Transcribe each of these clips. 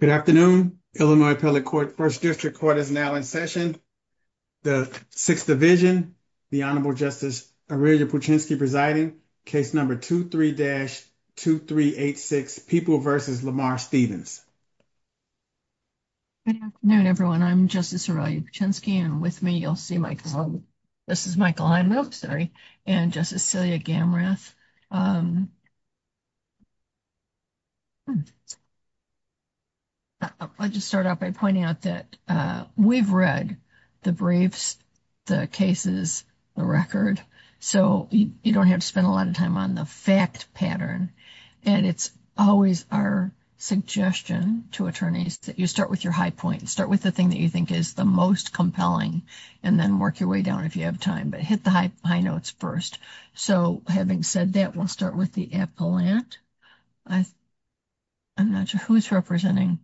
Good afternoon, Illinois appellate court 1st district court is now in session. The 6th division, the honorable justice presiding case number 2, 3 dash 2, 3, 8, 6 people versus Lamar Stephens. No, not everyone. I'm just a surrogate chance can with me. You'll see my. This is Michael. I'm sorry and just a silly again. I just start out by pointing out that we've read the briefs, the cases, the record, so you don't have to spend a lot of time on the fact pattern. And it's always our suggestion to attorneys that you start with your high point and start with the thing that you think is the most compelling and then work your way down if you have time, but hit the high notes 1st. So, having said that, we'll start with the appellate. I, I'm not sure who's representing.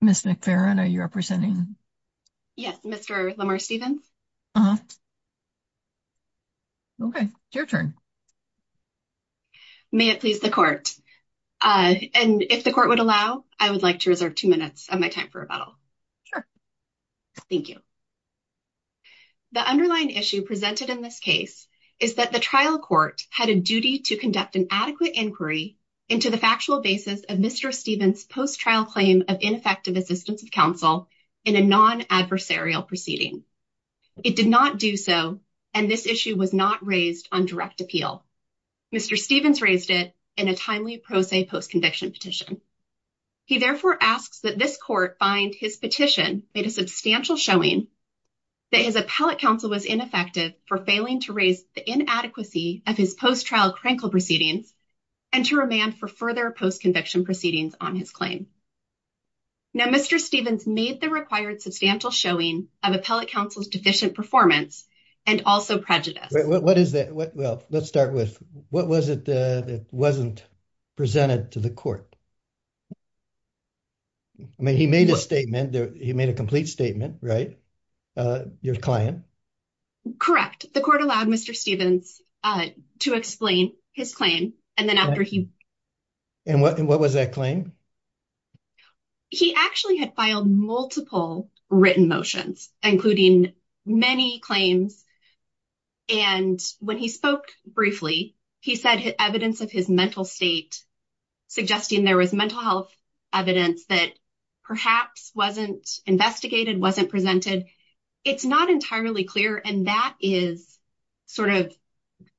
Miss McFarland, are you representing? Yes, Mr. Lamar Stephens. Okay, your turn may it please the court and if the court would allow, I would like to reserve 2 minutes of my time for rebuttal. Thank you, the underlying issue presented in this case is that the trial court had a duty to conduct an adequate inquiry into the factual basis of Mr. Stephens post trial claim of ineffective assistance of counsel in a non adversarial proceeding. It did not do so, and this issue was not raised on direct appeal. Mr. Stephens raised it in a timely post a post conviction petition. He therefore asks that this court find his petition made a substantial showing that his appellate counsel was ineffective for failing to raise the inadequacy of his post trial crankle proceedings and to remand for further post conviction proceedings on his claim. Now, Mr. Stephens made the required substantial showing of appellate counsel's deficient performance and also prejudice. What is that? Well, let's start with what was it that wasn't presented to the court. I mean, he made a statement, he made a complete statement, right? Your client correct the court allowed Mr. Stephens to explain his claim and then after he. And what and what was that claim he actually had filed multiple written motions, including many claims. And when he spoke briefly, he said evidence of his mental state. Suggesting there was mental health evidence that perhaps wasn't investigated, wasn't presented. It's not entirely clear. And that is. Sort of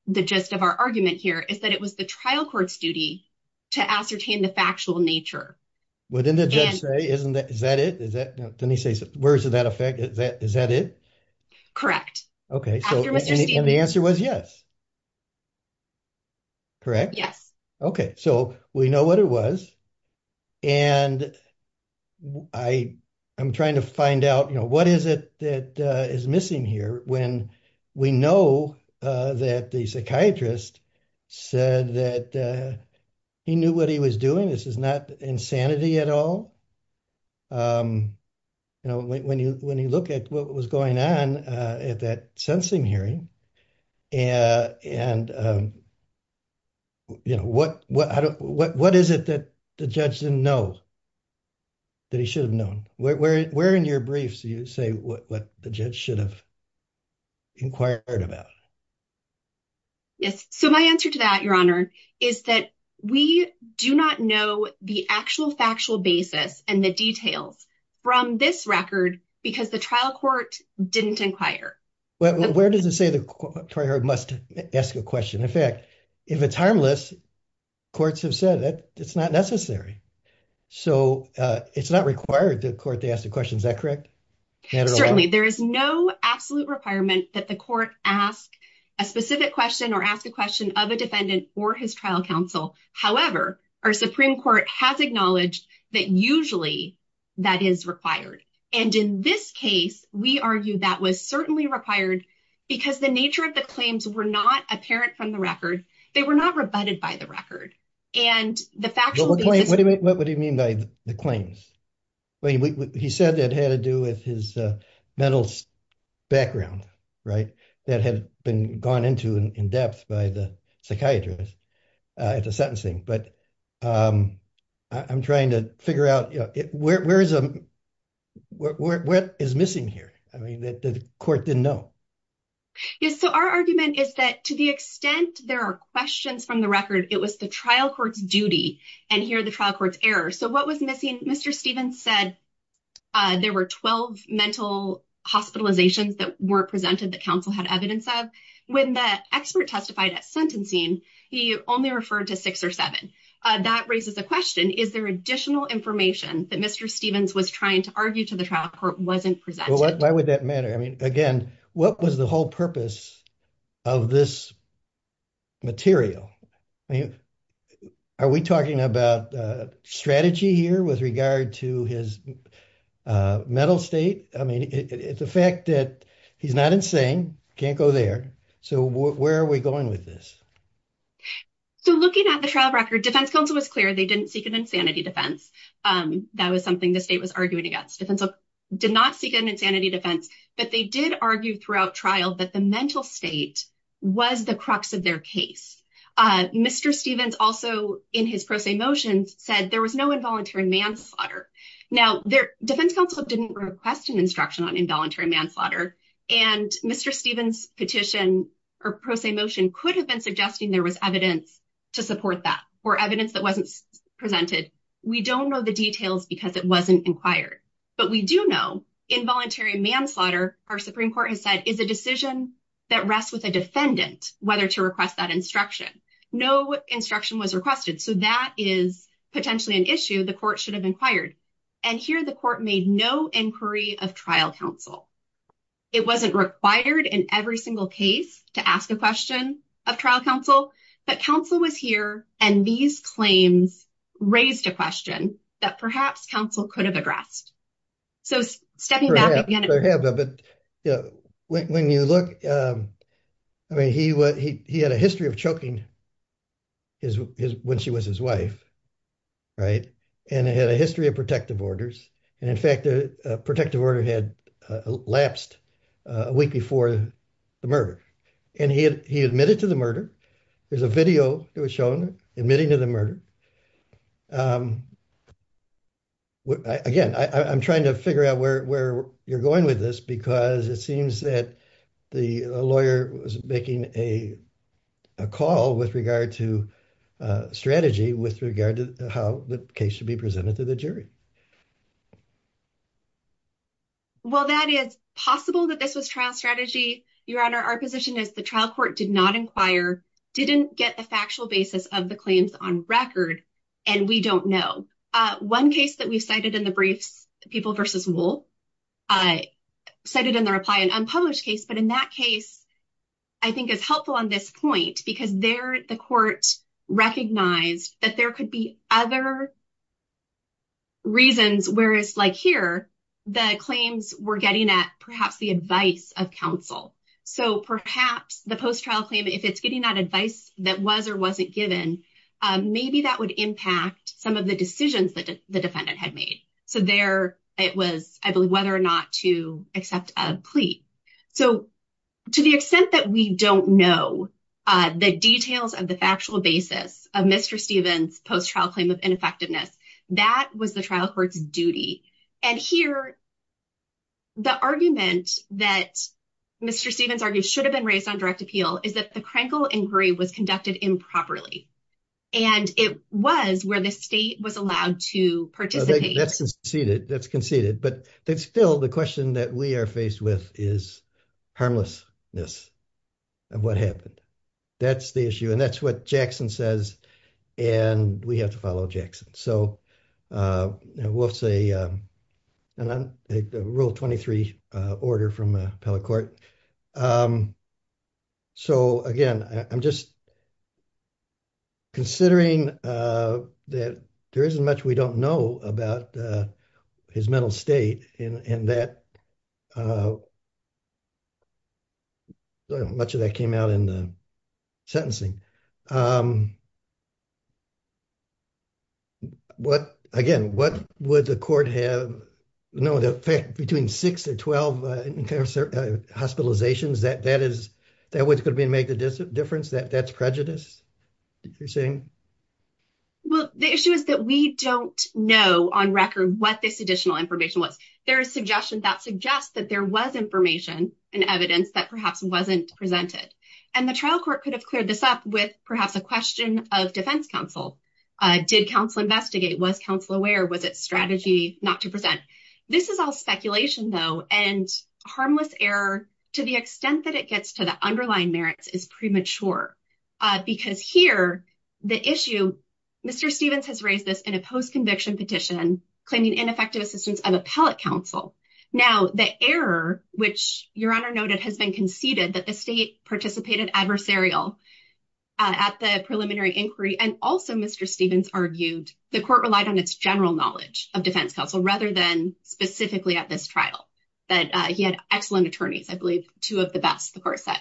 the gist of our argument here is that it was the trial court's duty. To ascertain the factual nature within the judge say, isn't that is that it? Is that then he says, where is that effect? Is that is that it? Correct? Okay. So the answer was, yes. Correct yes. Okay. So we know what it was. And I, I'm trying to find out, you know, what is it that is missing here when we know that the psychiatrist. Said that he knew what he was doing. This is not insanity at all. You know, when you when you look at what was going on at that sensing hearing. And, and, you know, what, what, what, what is it that the judge didn't know. That he should have known where, where, where in your briefs, you say what the judge should have. Inquired about yes. So my answer to that, your honor is that we do not know the actual factual basis and the details. From this record, because the trial court didn't inquire. Well, where does it say the must ask a question? In fact, if it's harmless. Courts have said that it's not necessary, so it's not required to court to ask the question. Is that correct? Certainly there is no absolute requirement that the court ask a specific question or ask a question of a defendant or his trial counsel. However, our Supreme Court has acknowledged that usually. That is required, and in this case, we argue that was certainly required. Because the nature of the claims were not apparent from the record. They were not rebutted by the record and the factual. What would he mean by the claims? He said that had to do with his mental background. Right that had been gone into in depth by the psychiatrist. It's a sentencing, but I'm trying to figure out where is. What is missing here? I mean, the court didn't know. Yes, so our argument is that to the extent there are questions from the record. It was the trial court's duty and here the trial court's error. So what was missing? Mr. Stevens said. There were 12 mental hospitalizations that were presented. The council had evidence of when the expert testified at sentencing. He only referred to six or seven that raises the question. Is there additional information that Mr. Stevens was trying to argue to the trial court? Wasn't presented? Why would that matter? I mean, again, what was the whole purpose? Of this. Material. Are we talking about strategy here with regard to his? Mental state. I mean, it's a fact that he's not insane. Can't go there. So where are we going with this? So looking at the trial record, Defense Council was clear. They didn't seek an insanity defense. That was something the state was arguing against. Defense did not seek an insanity defense. But they did argue throughout trial that the mental state was the crux of their case. Mr. Stevens also in his pro se motions said there was no involuntary manslaughter. Now, their defense counsel didn't request an instruction on involuntary manslaughter. And Mr. Stevens petition or pro se motion could have been suggesting there was evidence to support that or evidence that wasn't presented. We don't know the details because it wasn't inquired. But we do know involuntary manslaughter, our Supreme Court has said, is a decision that rests with a defendant whether to request that instruction. No instruction was requested. So that is potentially an issue the court should have inquired. And here the court made no inquiry of trial counsel. It wasn't required in every single case to ask a question of trial counsel. But counsel was here. And these claims raised a question that perhaps counsel could have addressed. So stepping back again. Perhaps, but when you look, I mean, he had a history of choking when she was his wife. Right. And it had a history of protective orders. And in fact, the protective order had lapsed a week before the murder. And he admitted to the murder. There's a video that was shown admitting to the murder. Again, I'm trying to figure out where you're going with this, because it seems that the lawyer was making a call with regard to strategy with regard to how the case should be presented to the jury. Well, that is possible that this was trial strategy. Your Honor, our position is the trial court did not inquire, didn't get the factual basis of the claims on record. And we don't know. One case that we cited in the briefs, people versus wool, I cited in the reply, an unpublished case. But in that case, I think is helpful on this point, because there the court recognized that there could be other reasons whereas like here, the claims were getting at perhaps the advice of counsel. So perhaps the post-trial claim, if it's getting that advice that was or wasn't given, maybe that would impact some of the decisions that the defendant had made. So there it was, I believe, whether or not to accept a plea. So to the extent that we don't know the details of the factual basis of Mr. Stevens post-trial claim of ineffectiveness, that was the trial court's duty. And here, the argument that Mr. Stevens argued should have been raised on direct appeal is that the Krenkel inquiry was conducted improperly. And it was where the state was allowed to participate. That's conceded, that's conceded. But that's still the question that we are faced with is harmlessness of what happened. That's the issue. And that's what Jackson says. And we have to follow Jackson. So we'll say rule 23 order from appellate court. So again, I'm just considering that there isn't much we don't know about his mental state and that much of that came out in the sentencing. Again, what would the court have? No, the fact between six or 12 hospitalizations, that what's going to make the difference, that's prejudice? Well, the issue is that we don't know on record what this additional information was. There is suggestion that suggests that there was information and evidence that perhaps wasn't presented. And the trial court could have cleared this up with perhaps a question of defense counsel. Did counsel investigate? Was counsel aware? Was it strategy not to present? This is all speculation, though. And harmless error, to the extent that it gets to the underlying merits, is premature. Because here, the issue, Mr. Stevens has raised this in a post-conviction petition claiming ineffective assistance of appellate counsel. Now, the error, which your honor noted, has been conceded that the state participated adversarial at the preliminary inquiry. And also, Mr. Stevens argued, the court relied on its general knowledge of defense counsel, rather than specifically at this trial. That he had excellent attorneys, I believe, two of the best, the court said.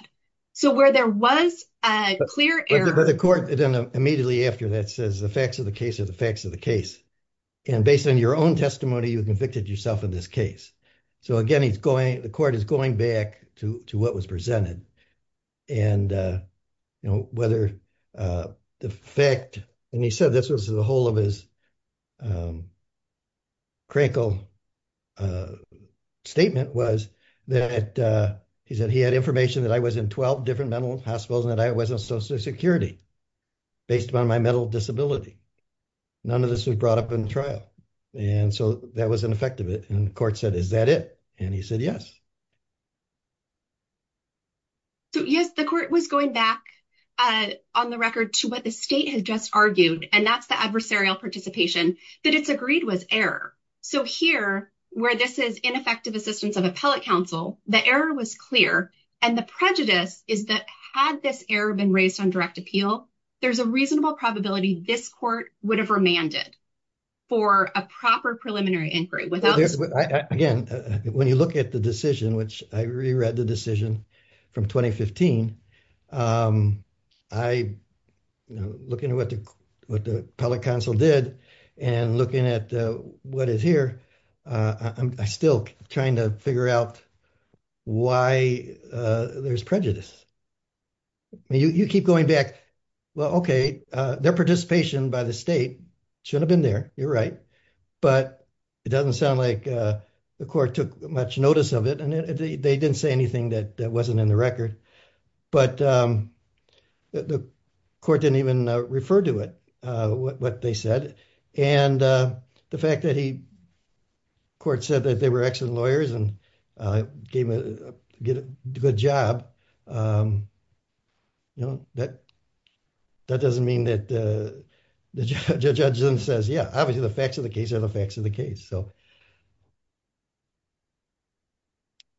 So where there was a clear error- But the court, immediately after that, says the facts of the case are the facts of the case. And based on your own testimony, you convicted yourself in this case. So again, the court is going back to what was presented. And, you know, whether the fact- And he said, this was the whole of his Crankle statement was that, he said, he had information that I was in 12 different mental hospitals, and that I was on social security, based upon my mental disability. None of this was brought up in trial. And so that was an effect of it. And the court said, is that it? And he said, yes. So yes, the court was going back on the record to what the state has just argued. And that's the adversarial participation that it's agreed was error. So here, where this is ineffective assistance of appellate counsel, the error was clear. And the prejudice is that, had this error been raised on direct appeal, there's a reasonable probability this court would have remanded for a proper preliminary inquiry without- When you look at the decision, which I reread the decision from 2015, I, you know, looking at what the appellate counsel did and looking at what is here, I'm still trying to figure out why there's prejudice. You keep going back. Well, okay, their participation by the state should have been there. You're right. But it doesn't sound like the court took much notice of it. And they didn't say anything that wasn't in the record. But the court didn't even refer to it, what they said. And the fact that he, the court said that they were excellent lawyers and gave a good job, you know, that doesn't mean that the judge then says, yeah, obviously the facts of the case are the facts of the case. So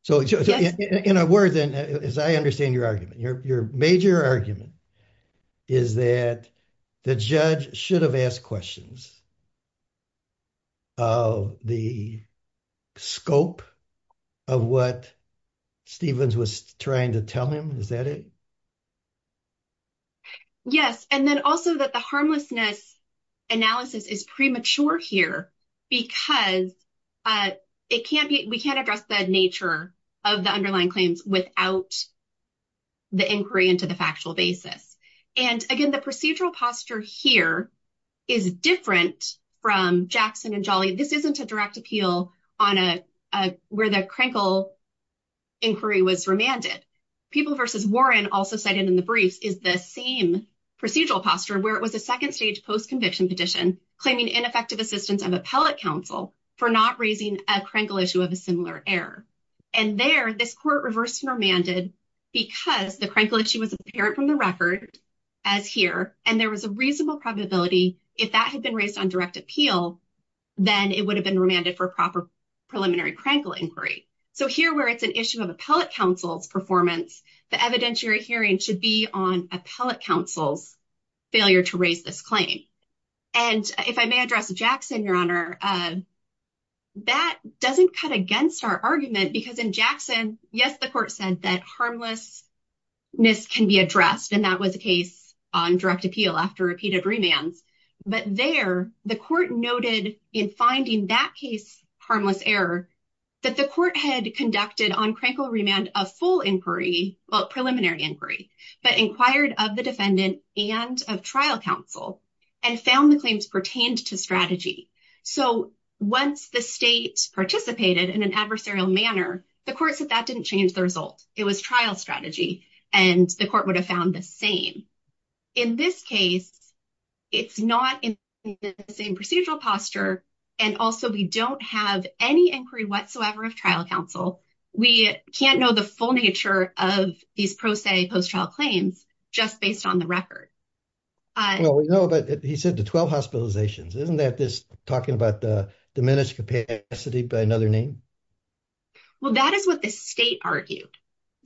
in a word, then, as I understand your argument, your major argument is that the judge should have asked questions of the scope of what Stevens was trying to tell him. Is that it? Yes. And then also that the harmlessness analysis is premature here, because it can't be, we can't address the nature of the underlying claims without the inquiry into the factual basis. And again, the procedural posture here is different from Jackson and Jolly. This isn't a direct appeal on a, where the Krenkel inquiry was remanded. People versus Warren also cited in the briefs is the same procedural posture, where it was a second stage post-conviction petition claiming ineffective assistance of appellate counsel for not raising a Krenkel issue of a similar error. And there, this court reversed and remanded because the Krenkel issue was apparent from the record as here, and there was a reasonable probability if that had been raised on direct appeal, then it would have been remanded for proper preliminary Krenkel inquiry. So here where it's an issue of appellate counsel's performance, the evidentiary hearing should be on appellate counsel's failure to raise this claim. And if I may address Jackson, Your Honor, that doesn't cut against our argument because in Jackson, yes, the court said that harmlessness can be addressed. And that was a case on direct appeal after repeated remands. But there the court noted in finding that case, harmless error, that the court had conducted on Krenkel remand of full inquiry, well, preliminary inquiry, but inquired of the defendant and of trial counsel and found the claims pertained to strategy. So once the state participated in an adversarial manner, the court said that didn't change the result. It was trial strategy, and the court would have found the same. In this case, it's not in the same procedural posture. And also, we don't have any inquiry whatsoever of trial counsel. We can't know the full nature of these pro se post trial claims just based on the record. Well, no, but he said the 12 hospitalizations, isn't that this talking about the diminished capacity by another name? Well, that is what the state argued.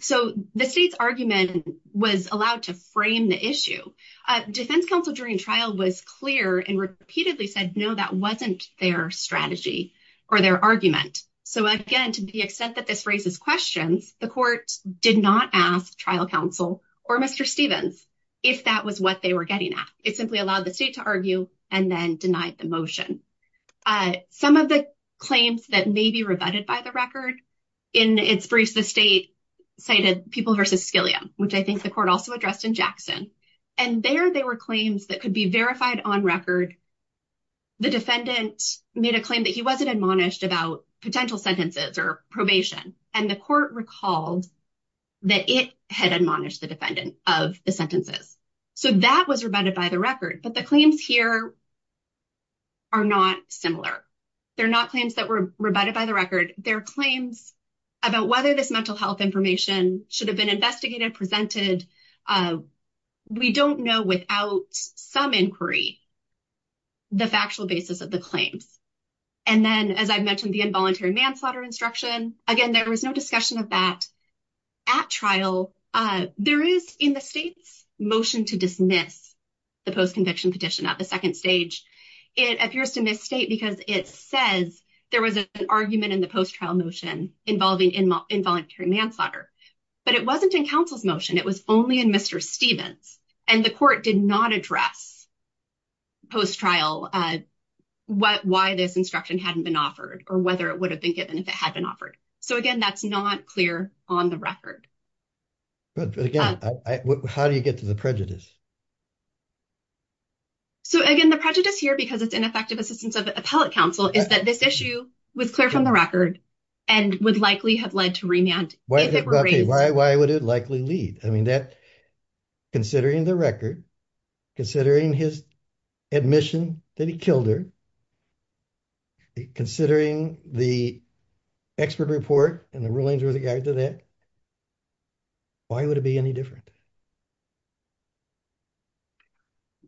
So the state's argument was allowed to frame the issue. Defense counsel during trial was clear and repeatedly said, no, that wasn't their strategy or their argument. So again, to the extent that this raises questions, the court did not ask trial counsel or Mr. Stevens if that was what they were getting at. It simply allowed the state to argue and then denied the motion. And some of the claims that may be rebutted by the record in its briefs, the state cited people versus Scalia, which I think the court also addressed in Jackson. And there they were claims that could be verified on record. The defendant made a claim that he wasn't admonished about potential sentences or probation, and the court recalled that it had admonished the defendant of the sentences. So that was rebutted by the record. But the claims here are not similar. They're not claims that were rebutted by the record. They're claims about whether this mental health information should have been investigated, We don't know without some inquiry the factual basis of the claims. And then, as I mentioned, the involuntary manslaughter instruction. Again, there was no discussion of that at trial. There is in the state's motion to dismiss the post-conviction petition at the second stage. It appears to misstate because it says there was an argument in the post-trial motion involving involuntary manslaughter. But it wasn't in counsel's motion. It was only in Mr. Stevens. And the court did not address post-trial why this instruction hadn't been offered or whether it would have been given if it had been offered. So again, that's not clear on the record. But again, how do you get to the prejudice? So again, the prejudice here, because it's ineffective assistance of appellate counsel, is that this issue was clear from the record and would likely have led to remand. Why would it likely lead? I mean, considering the record, considering his admission that he killed her, considering the expert report and the rulings with regard to that, why would it be any different?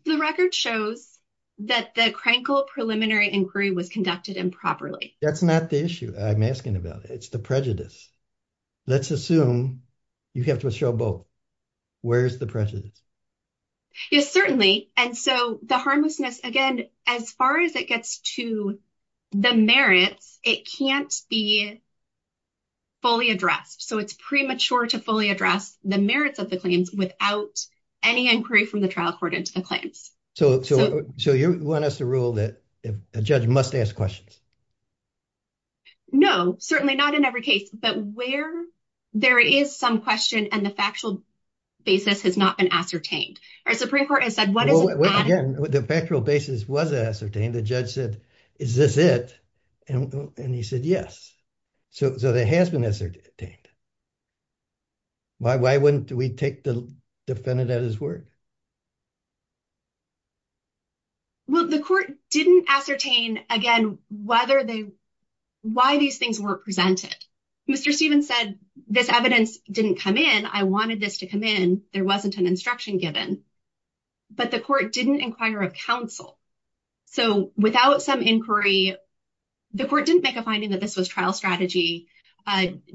The record shows that the Krenkel preliminary inquiry was conducted improperly. That's not the issue I'm asking about. It's the prejudice. Let's assume you have to show both. Where's the prejudice? Yes, certainly. And so the harmlessness, again, as far as it gets to the merits, it can't be fully addressed. So it's premature to fully address the merits of the claims without any inquiry from the trial court into the claims. So you want us to rule that a judge must ask questions? No, certainly not in every case. But where there is some question and the factual basis has not been ascertained. Our Supreme Court has said, what is it? Again, the factual basis was ascertained. The judge said, is this it? And he said, yes. So there has been ascertained. Why wouldn't we take the defendant at his word? Well, the court didn't ascertain, again, why these things weren't presented. Mr. Stevens said, this evidence didn't come in. I wanted this to come in. There wasn't an instruction given. But the court didn't inquire of counsel. So without some inquiry, the court didn't make a finding that this was trial strategy,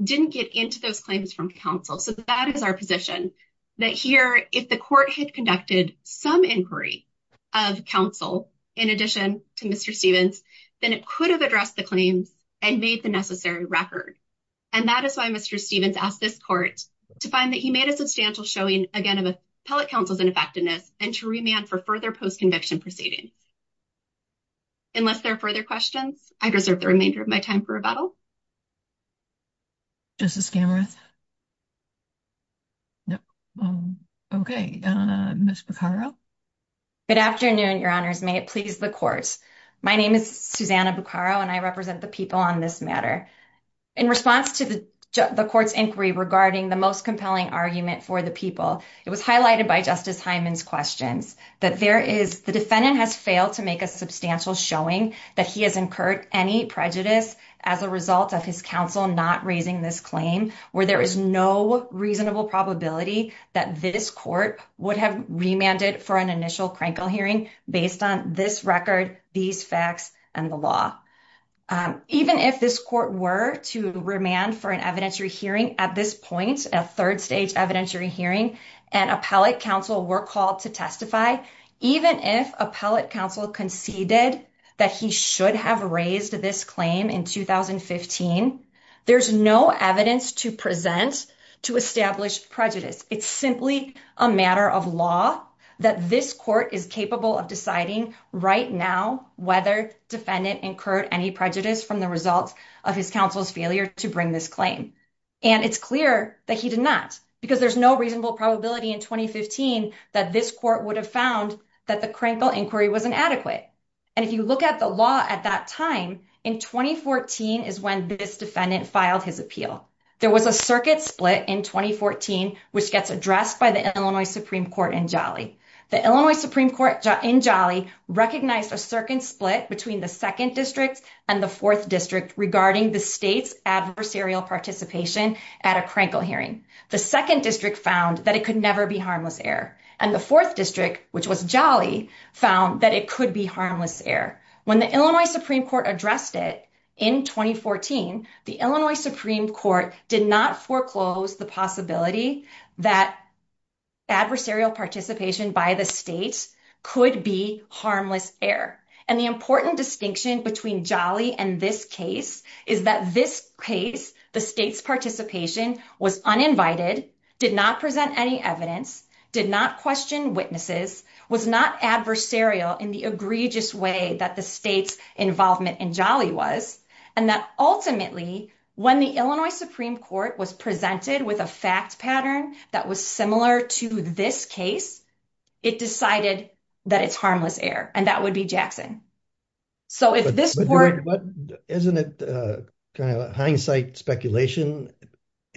didn't get into those claims from counsel. So that is our position. That here, if the court had conducted some inquiry of counsel, in addition to Mr. Stevens, then it could have addressed the claims and made the necessary record. And that is why Mr. Stevens asked this court to find that he made a substantial showing, again, of appellate counsel's ineffectiveness and to remand for further post-conviction proceedings. Unless there are further questions, I deserve the remainder of my time for rebuttal. Justice Gamorath? No. Okay. Ms. Buccaro? Good afternoon, Your Honors. May it please the court. My name is Susanna Buccaro, and I represent the people on this matter. In response to the court's inquiry regarding the most compelling argument for the people, it was highlighted by Justice Hyman's questions that the defendant has failed to make a substantial showing that he has incurred any prejudice as a result of his counsel not raising this claim, where there is no reasonable probability that this court would have remanded for an initial Krankel hearing based on this record, these facts, and the law. Even if this court were to remand for an evidentiary hearing at this point, a third-stage evidentiary hearing, and appellate counsel were called to testify, even if appellate counsel conceded that he should have raised this claim in 2015, there's no evidence to present to establish prejudice. It's simply a matter of law that this court is capable of deciding right now whether the defendant incurred any prejudice from the results of his counsel's failure to bring this claim. It's clear that he did not, because there's no reasonable probability in 2015 that this court would have found that the Krankel inquiry was inadequate. And if you look at the law at that time, in 2014 is when this defendant filed his appeal. There was a circuit split in 2014, which gets addressed by the Illinois Supreme Court in Jolly. The Illinois Supreme Court in Jolly recognized a certain split between the second district and the fourth district regarding the state's adversarial participation at a Krankel hearing. The second district found that it could never be harmless error. And the fourth district, which was Jolly, found that it could be harmless error. When the Illinois Supreme Court addressed it in 2014, the Illinois Supreme Court did not foreclose the possibility that adversarial participation by the state could be harmless error. And the important distinction between Jolly and this case is that this case, the state's participation was uninvited, did not present any evidence, did not question witnesses, was not adversarial in the egregious way that the state's involvement in Jolly was, and that ultimately when the Illinois Supreme Court was presented with a fact pattern that was similar to this case, it decided that it's harmless error. And that would be Jackson. So if this were- But isn't it kind of hindsight speculation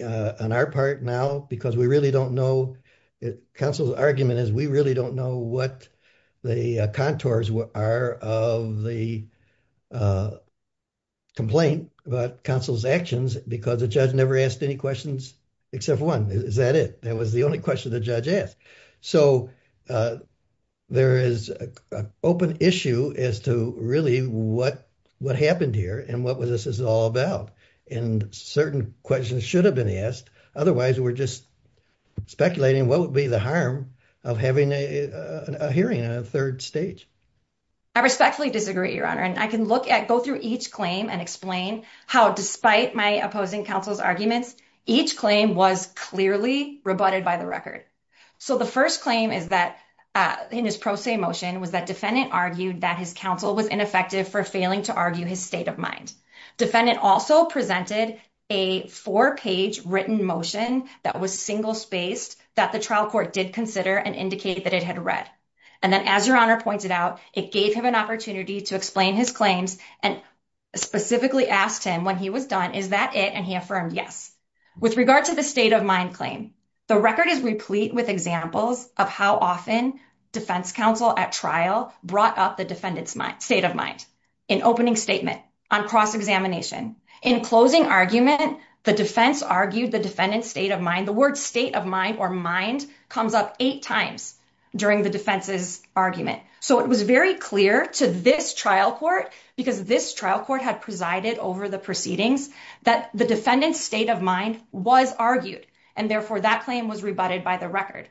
on our part now? Because we really don't know. Counsel's argument is we really don't know what the contours are of the complaint about counsel's actions because the judge never asked any questions except one. Is that it? That was the only question the judge asked. So there is an open issue as to really what happened here and what this is all about. And certain questions should have been asked. Otherwise, we're just speculating what would be the harm of having a hearing on a third stage. I respectfully disagree, Your Honor. And I can look at, go through each claim and explain how despite my opposing counsel's arguments, each claim was clearly rebutted by the record. So the first claim is that in his pro se motion was that defendant argued that his counsel was ineffective for failing to argue his state of mind. Defendant also presented a four-page written motion that was single-spaced that the trial court did consider and indicate that it had read. And then as Your Honor pointed out, it gave him an opportunity to explain his claims and specifically asked him when he was done, is that it? And he affirmed yes. With regard to the state of mind claim, the record is replete with examples of how often defense counsel at trial brought up the defendant's state of mind in opening statement on cross-examination. In closing argument, the defense argued the defendant's state of mind. The word state of mind or mind comes up eight times during the defense's argument. So it was very clear to this trial court, because this trial court had presided over the proceedings, that the defendant's state of mind was argued. And therefore, that claim was rebutted by the record.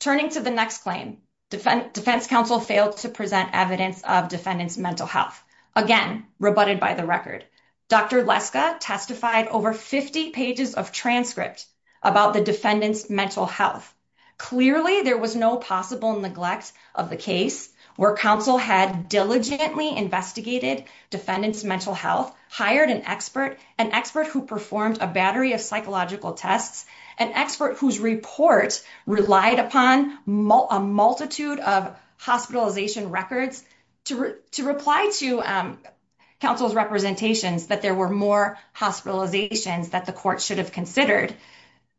Turning to the next claim, defense counsel failed to present evidence of defendant's mental health. Again, rebutted by the record. Dr. Leska testified over 50 pages of transcript about the defendant's mental health. Clearly, there was no possible neglect of the case where counsel had diligently investigated defendant's mental health, hired an expert, an expert who performed a battery of psychological tests, an expert whose report relied upon a multitude of hospitalization records to reply to counsel's representations that there were more hospitalizations that the court should have considered.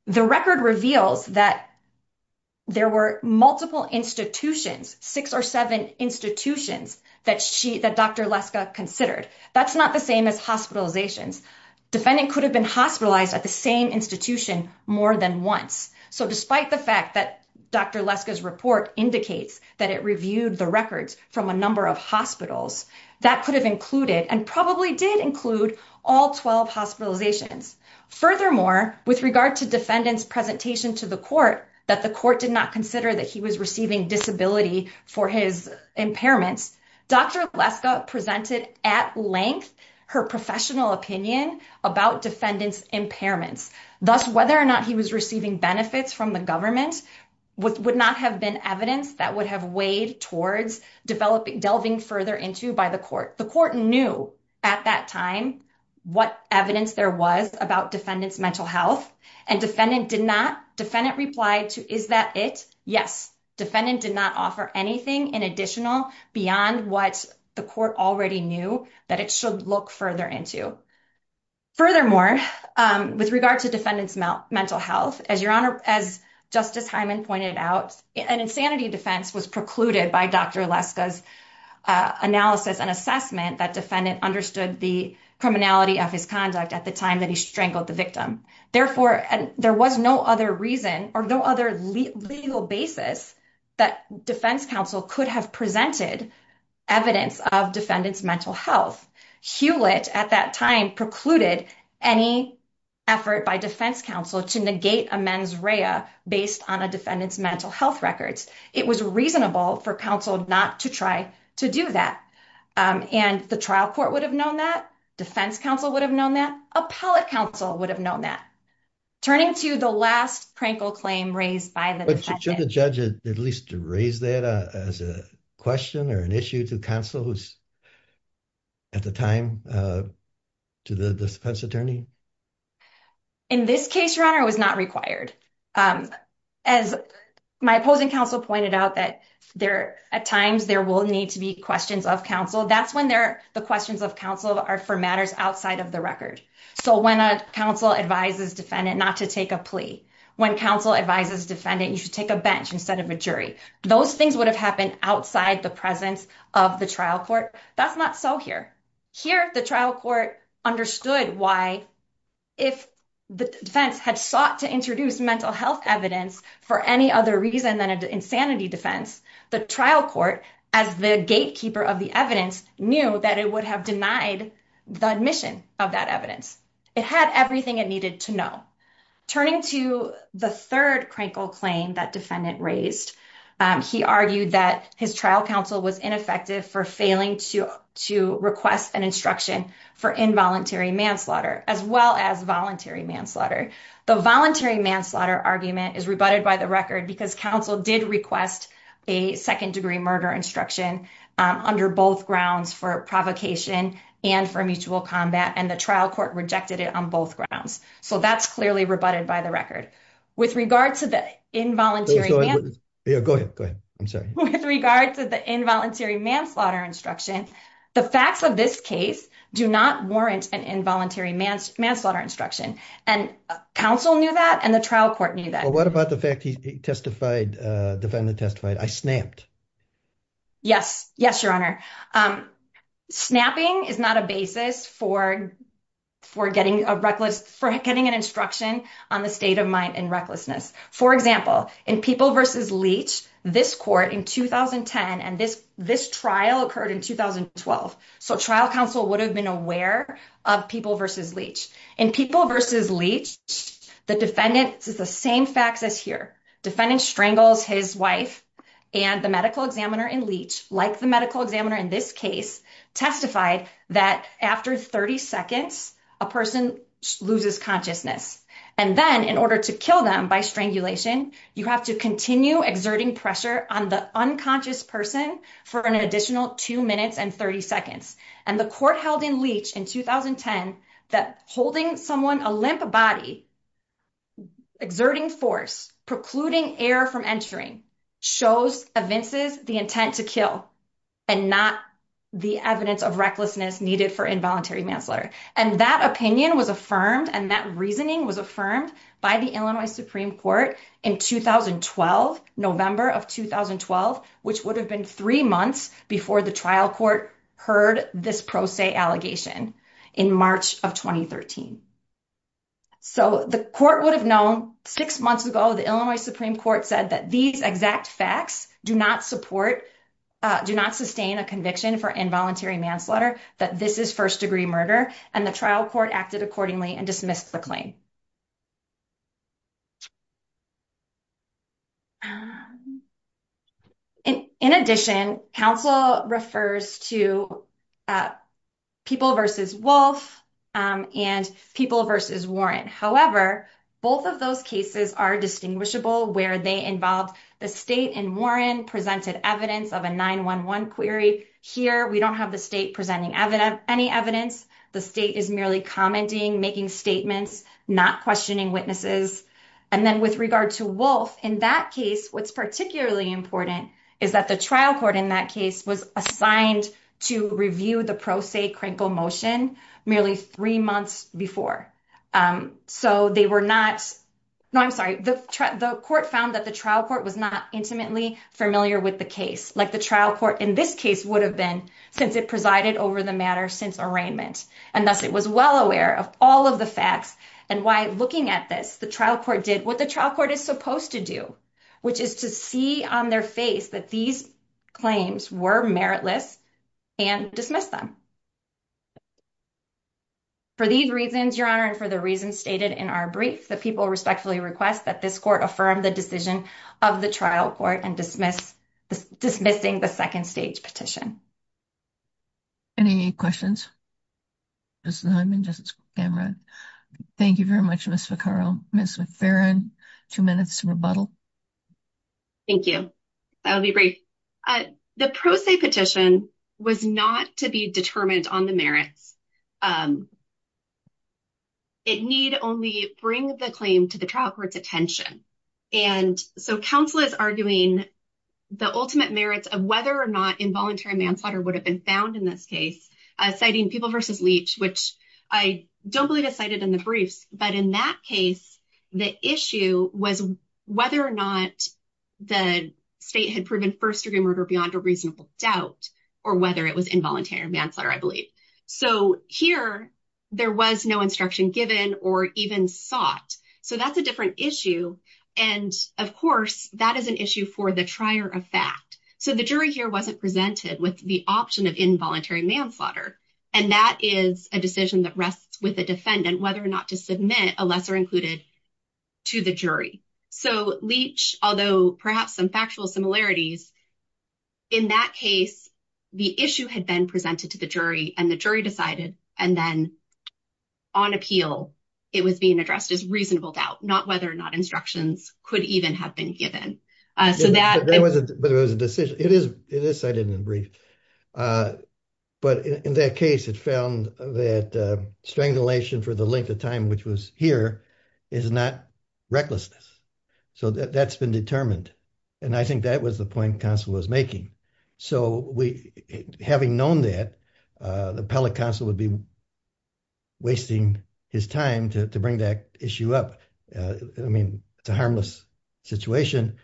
The record reveals that there were multiple institutions, six or seven institutions that Dr. Leska considered. That's not the same as hospitalizations. Defendant could have been hospitalized at the same institution more than once. So despite the fact that Dr. Leska's report indicates that it reviewed the records from a number of hospitals, that could have included and probably did include all 12 hospitalizations. Furthermore, with regard to defendant's presentation to the court that the court did not consider that he was receiving disability for his impairments, Dr. Leska presented at length her professional opinion about defendant's impairments. Thus, whether or not he was receiving benefits from the government would not have been evidence that would have weighed towards developing, delving further into by the court. The court knew at that time what evidence there was about defendant's mental health and defendant did not, defendant replied to, is that it? Yes. Defendant did not offer anything in additional beyond what the court already knew that it should look further into. Furthermore, with regard to defendant's mental health, as your honor, as Justice Hyman pointed out, an insanity defense was precluded by Dr. Leska's analysis and assessment that defendant understood the criminality of his conduct at the time that he strangled the victim. Therefore, there was no other reason or no other legal basis that defense counsel could have presented evidence of defendant's mental health. Hewlett at that time precluded any effort by defense counsel to negate a mens rea based on a defendant's mental health records. It was reasonable for counsel not to try to do that. And the trial court would have known that, defense counsel would have known that, appellate counsel would have known that. Turning to the last prank or claim raised by the defendant. But should the judge at least raise that as a question or an issue to counsel who's at the time to the defense attorney? In this case, your honor, it was not required. As my opposing counsel pointed out that there, at times there will need to be questions of counsel. That's when the questions of counsel are for matters outside of the record. When a counsel advises defendant not to take a plea, when counsel advises defendant, you should take a bench instead of a jury. Those things would have happened outside the presence of the trial court. That's not so here. Here, the trial court understood why if the defense had sought to introduce mental health evidence for any other reason than an insanity defense, the trial court, as the gatekeeper of the evidence, knew that it would have denied the admission of that evidence. It had everything it needed to know. Turning to the third crankle claim that defendant raised, he argued that his trial counsel was ineffective for failing to request an instruction for involuntary manslaughter as well as voluntary manslaughter. The voluntary manslaughter argument is rebutted by the record because counsel did request a second degree murder instruction under both grounds for provocation and for mutual combat, and the trial court rejected it on both grounds. So that's clearly rebutted by the record. With regard to the involuntary manslaughter instruction, the facts of this case do not warrant an involuntary manslaughter instruction. And counsel knew that and the trial court knew that. What about the fact he testified, defendant testified, I snapped? Yes, yes, your honor. Snapping is not a basis for getting a reckless, for getting an instruction on the state of mind and recklessness. For example, in People v. Leach, this court in 2010 and this trial occurred in 2012. So trial counsel would have been aware of People v. Leach. In People v. Leach, the defendant says the same facts as here. Defendant strangles his wife and the medical examiner in Leach, like the medical examiner in this case, testified that after 30 seconds, a person loses consciousness. And then in order to kill them by strangulation, you have to continue exerting pressure on the unconscious person for an additional two minutes and 30 seconds. And the court held in Leach in 2010 that holding someone a limp body, exerting force, precluding air from entering, shows evinces the intent to kill and not the evidence of recklessness needed for involuntary manslaughter. And that opinion was affirmed and that reasoning was affirmed by the Illinois Supreme Court in 2012, November of 2012, which would have been three months before the trial court heard this pro se allegation in March of 2013. So the court would have known six months ago, the Illinois Supreme Court said that these exact facts do not support, do not sustain a conviction for involuntary manslaughter, that this is first degree murder. And the trial court acted accordingly and dismissed the claim. In addition, counsel refers to people versus Wolf and people versus Warren. However, both of those cases are distinguishable where they involved the state and Warren presented evidence of a 911 query. Here, we don't have the state presenting any evidence. The state is merely commenting, making statements, not questioning witnesses. And then with regard to Wolf, in that case, what's particularly important is that the trial court in that case was assigned to review the pro se crinkle motion merely three months before. So they were not, no, I'm sorry. The court found that the trial court was not intimately familiar with the case, like the trial court in this case would have been since it presided over the matter since arraignment. And thus it was well aware of all of the facts and why looking at this, the trial court did what the trial court is supposed to do, which is to see on their face that these claims were meritless and dismiss them. For these reasons, Your Honor, and for the reasons stated in our brief, the people respectfully request that this court affirm the decision of the trial court and dismiss, dismissing the second stage petition. Any questions? Justice Hyman, Justice Cameron, thank you very much, Ms. Ficarro. Ms. McFerrin, two minutes to rebuttal. Thank you. That'll be brief. The pro se petition was not to be determined on the merits. It need only bring the claim to the trial court's attention. And so counsel is arguing the ultimate merits of whether or not involuntary manslaughter would have been found in this case, citing People v. Leach, which I don't believe is cited in the briefs. In that case, the issue was whether or not the state had proven first-degree murder beyond a reasonable doubt or whether it was involuntary manslaughter, I believe. So here, there was no instruction given or even sought. So that's a different issue. And of course, that is an issue for the trier of fact. So the jury here wasn't presented with the option of involuntary manslaughter. And that is a decision that rests with the defendant, whether or not to submit a lesser included to the jury. So Leach, although perhaps some factual similarities, in that case, the issue had been presented to the jury and the jury decided. And then on appeal, it was being addressed as reasonable doubt, not whether or not instructions could even have been given. So that was a decision. It is cited in the brief. But in that case, it found that strangulation for the length of time, which was here, is not recklessness. So that's been determined. And I think that was the point counsel was making. So having known that, the appellate counsel would be wasting his time to bring that issue up. I mean, it's a harmless situation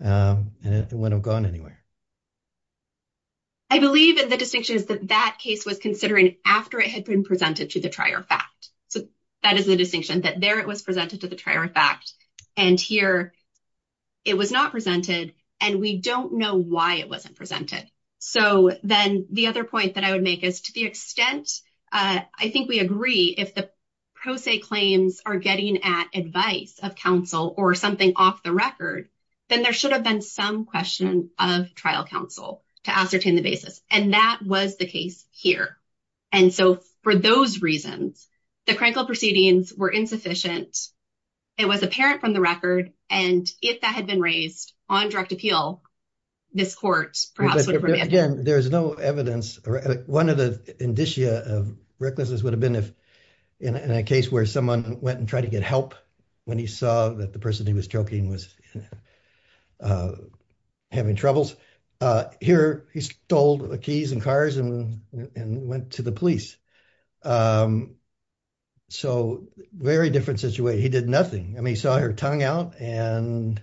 and it wouldn't have gone anywhere. I believe that the distinction is that that case was considering after it had been presented to the trier of fact. So that is the distinction that there it was presented to the trier of fact. And here it was not presented. And we don't know why it wasn't presented. So then the other point that I would make is to the extent, I think we agree if the pro se claims are getting at advice of counsel or something off the record, then there should have been some question of trial counsel to ascertain the basis. And that was the case here. And so for those reasons, the crankled proceedings were insufficient. It was apparent from the record. And if that had been raised on direct appeal, this court perhaps would have remanded. Again, there's no evidence. One of the indicia of recklessness would have been if in a case where someone went and tried to get help when he saw that the person he was choking was having troubles. Here he stole the keys and cars and went to the police. So very different situation. He did nothing. I mean, he saw her tongue out and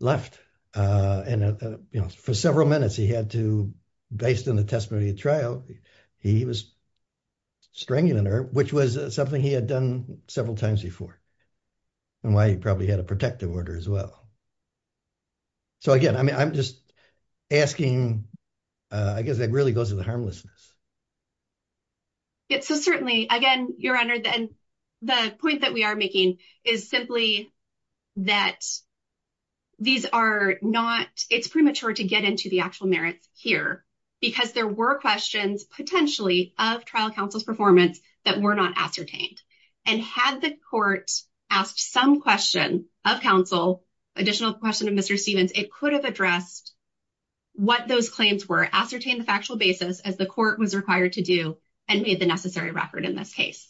left. And for several minutes he had to, based on the testimony of trial, he was strangling her, which was something he had done several times before. And why he probably had a protective order as well. So again, I mean, I'm just asking, I guess that really goes to the harmlessness. So certainly, again, Your Honor, the point that we are making is simply that these are not, it's premature to get into the actual merits here, because there were questions potentially of trial counsel's performance that were not ascertained. And had the court asked some question of counsel, additional question of Mr. Stevens, it could have addressed what those claims were, ascertain the factual basis as the court was required to do and made the necessary record in this case.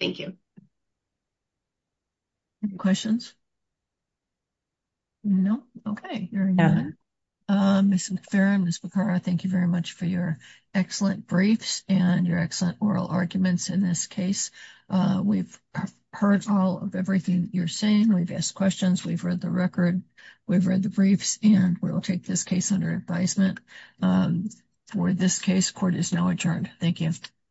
Thank you. Questions? No. Okay. Ms. McPheron, Ms. Bacara, thank you very much for your excellent briefs and your excellent oral arguments in this case. We've heard all of everything you're saying. We've asked questions. We've read the record. We've read the briefs and we'll take this case under advisement. For this case, court is now adjourned. Thank you.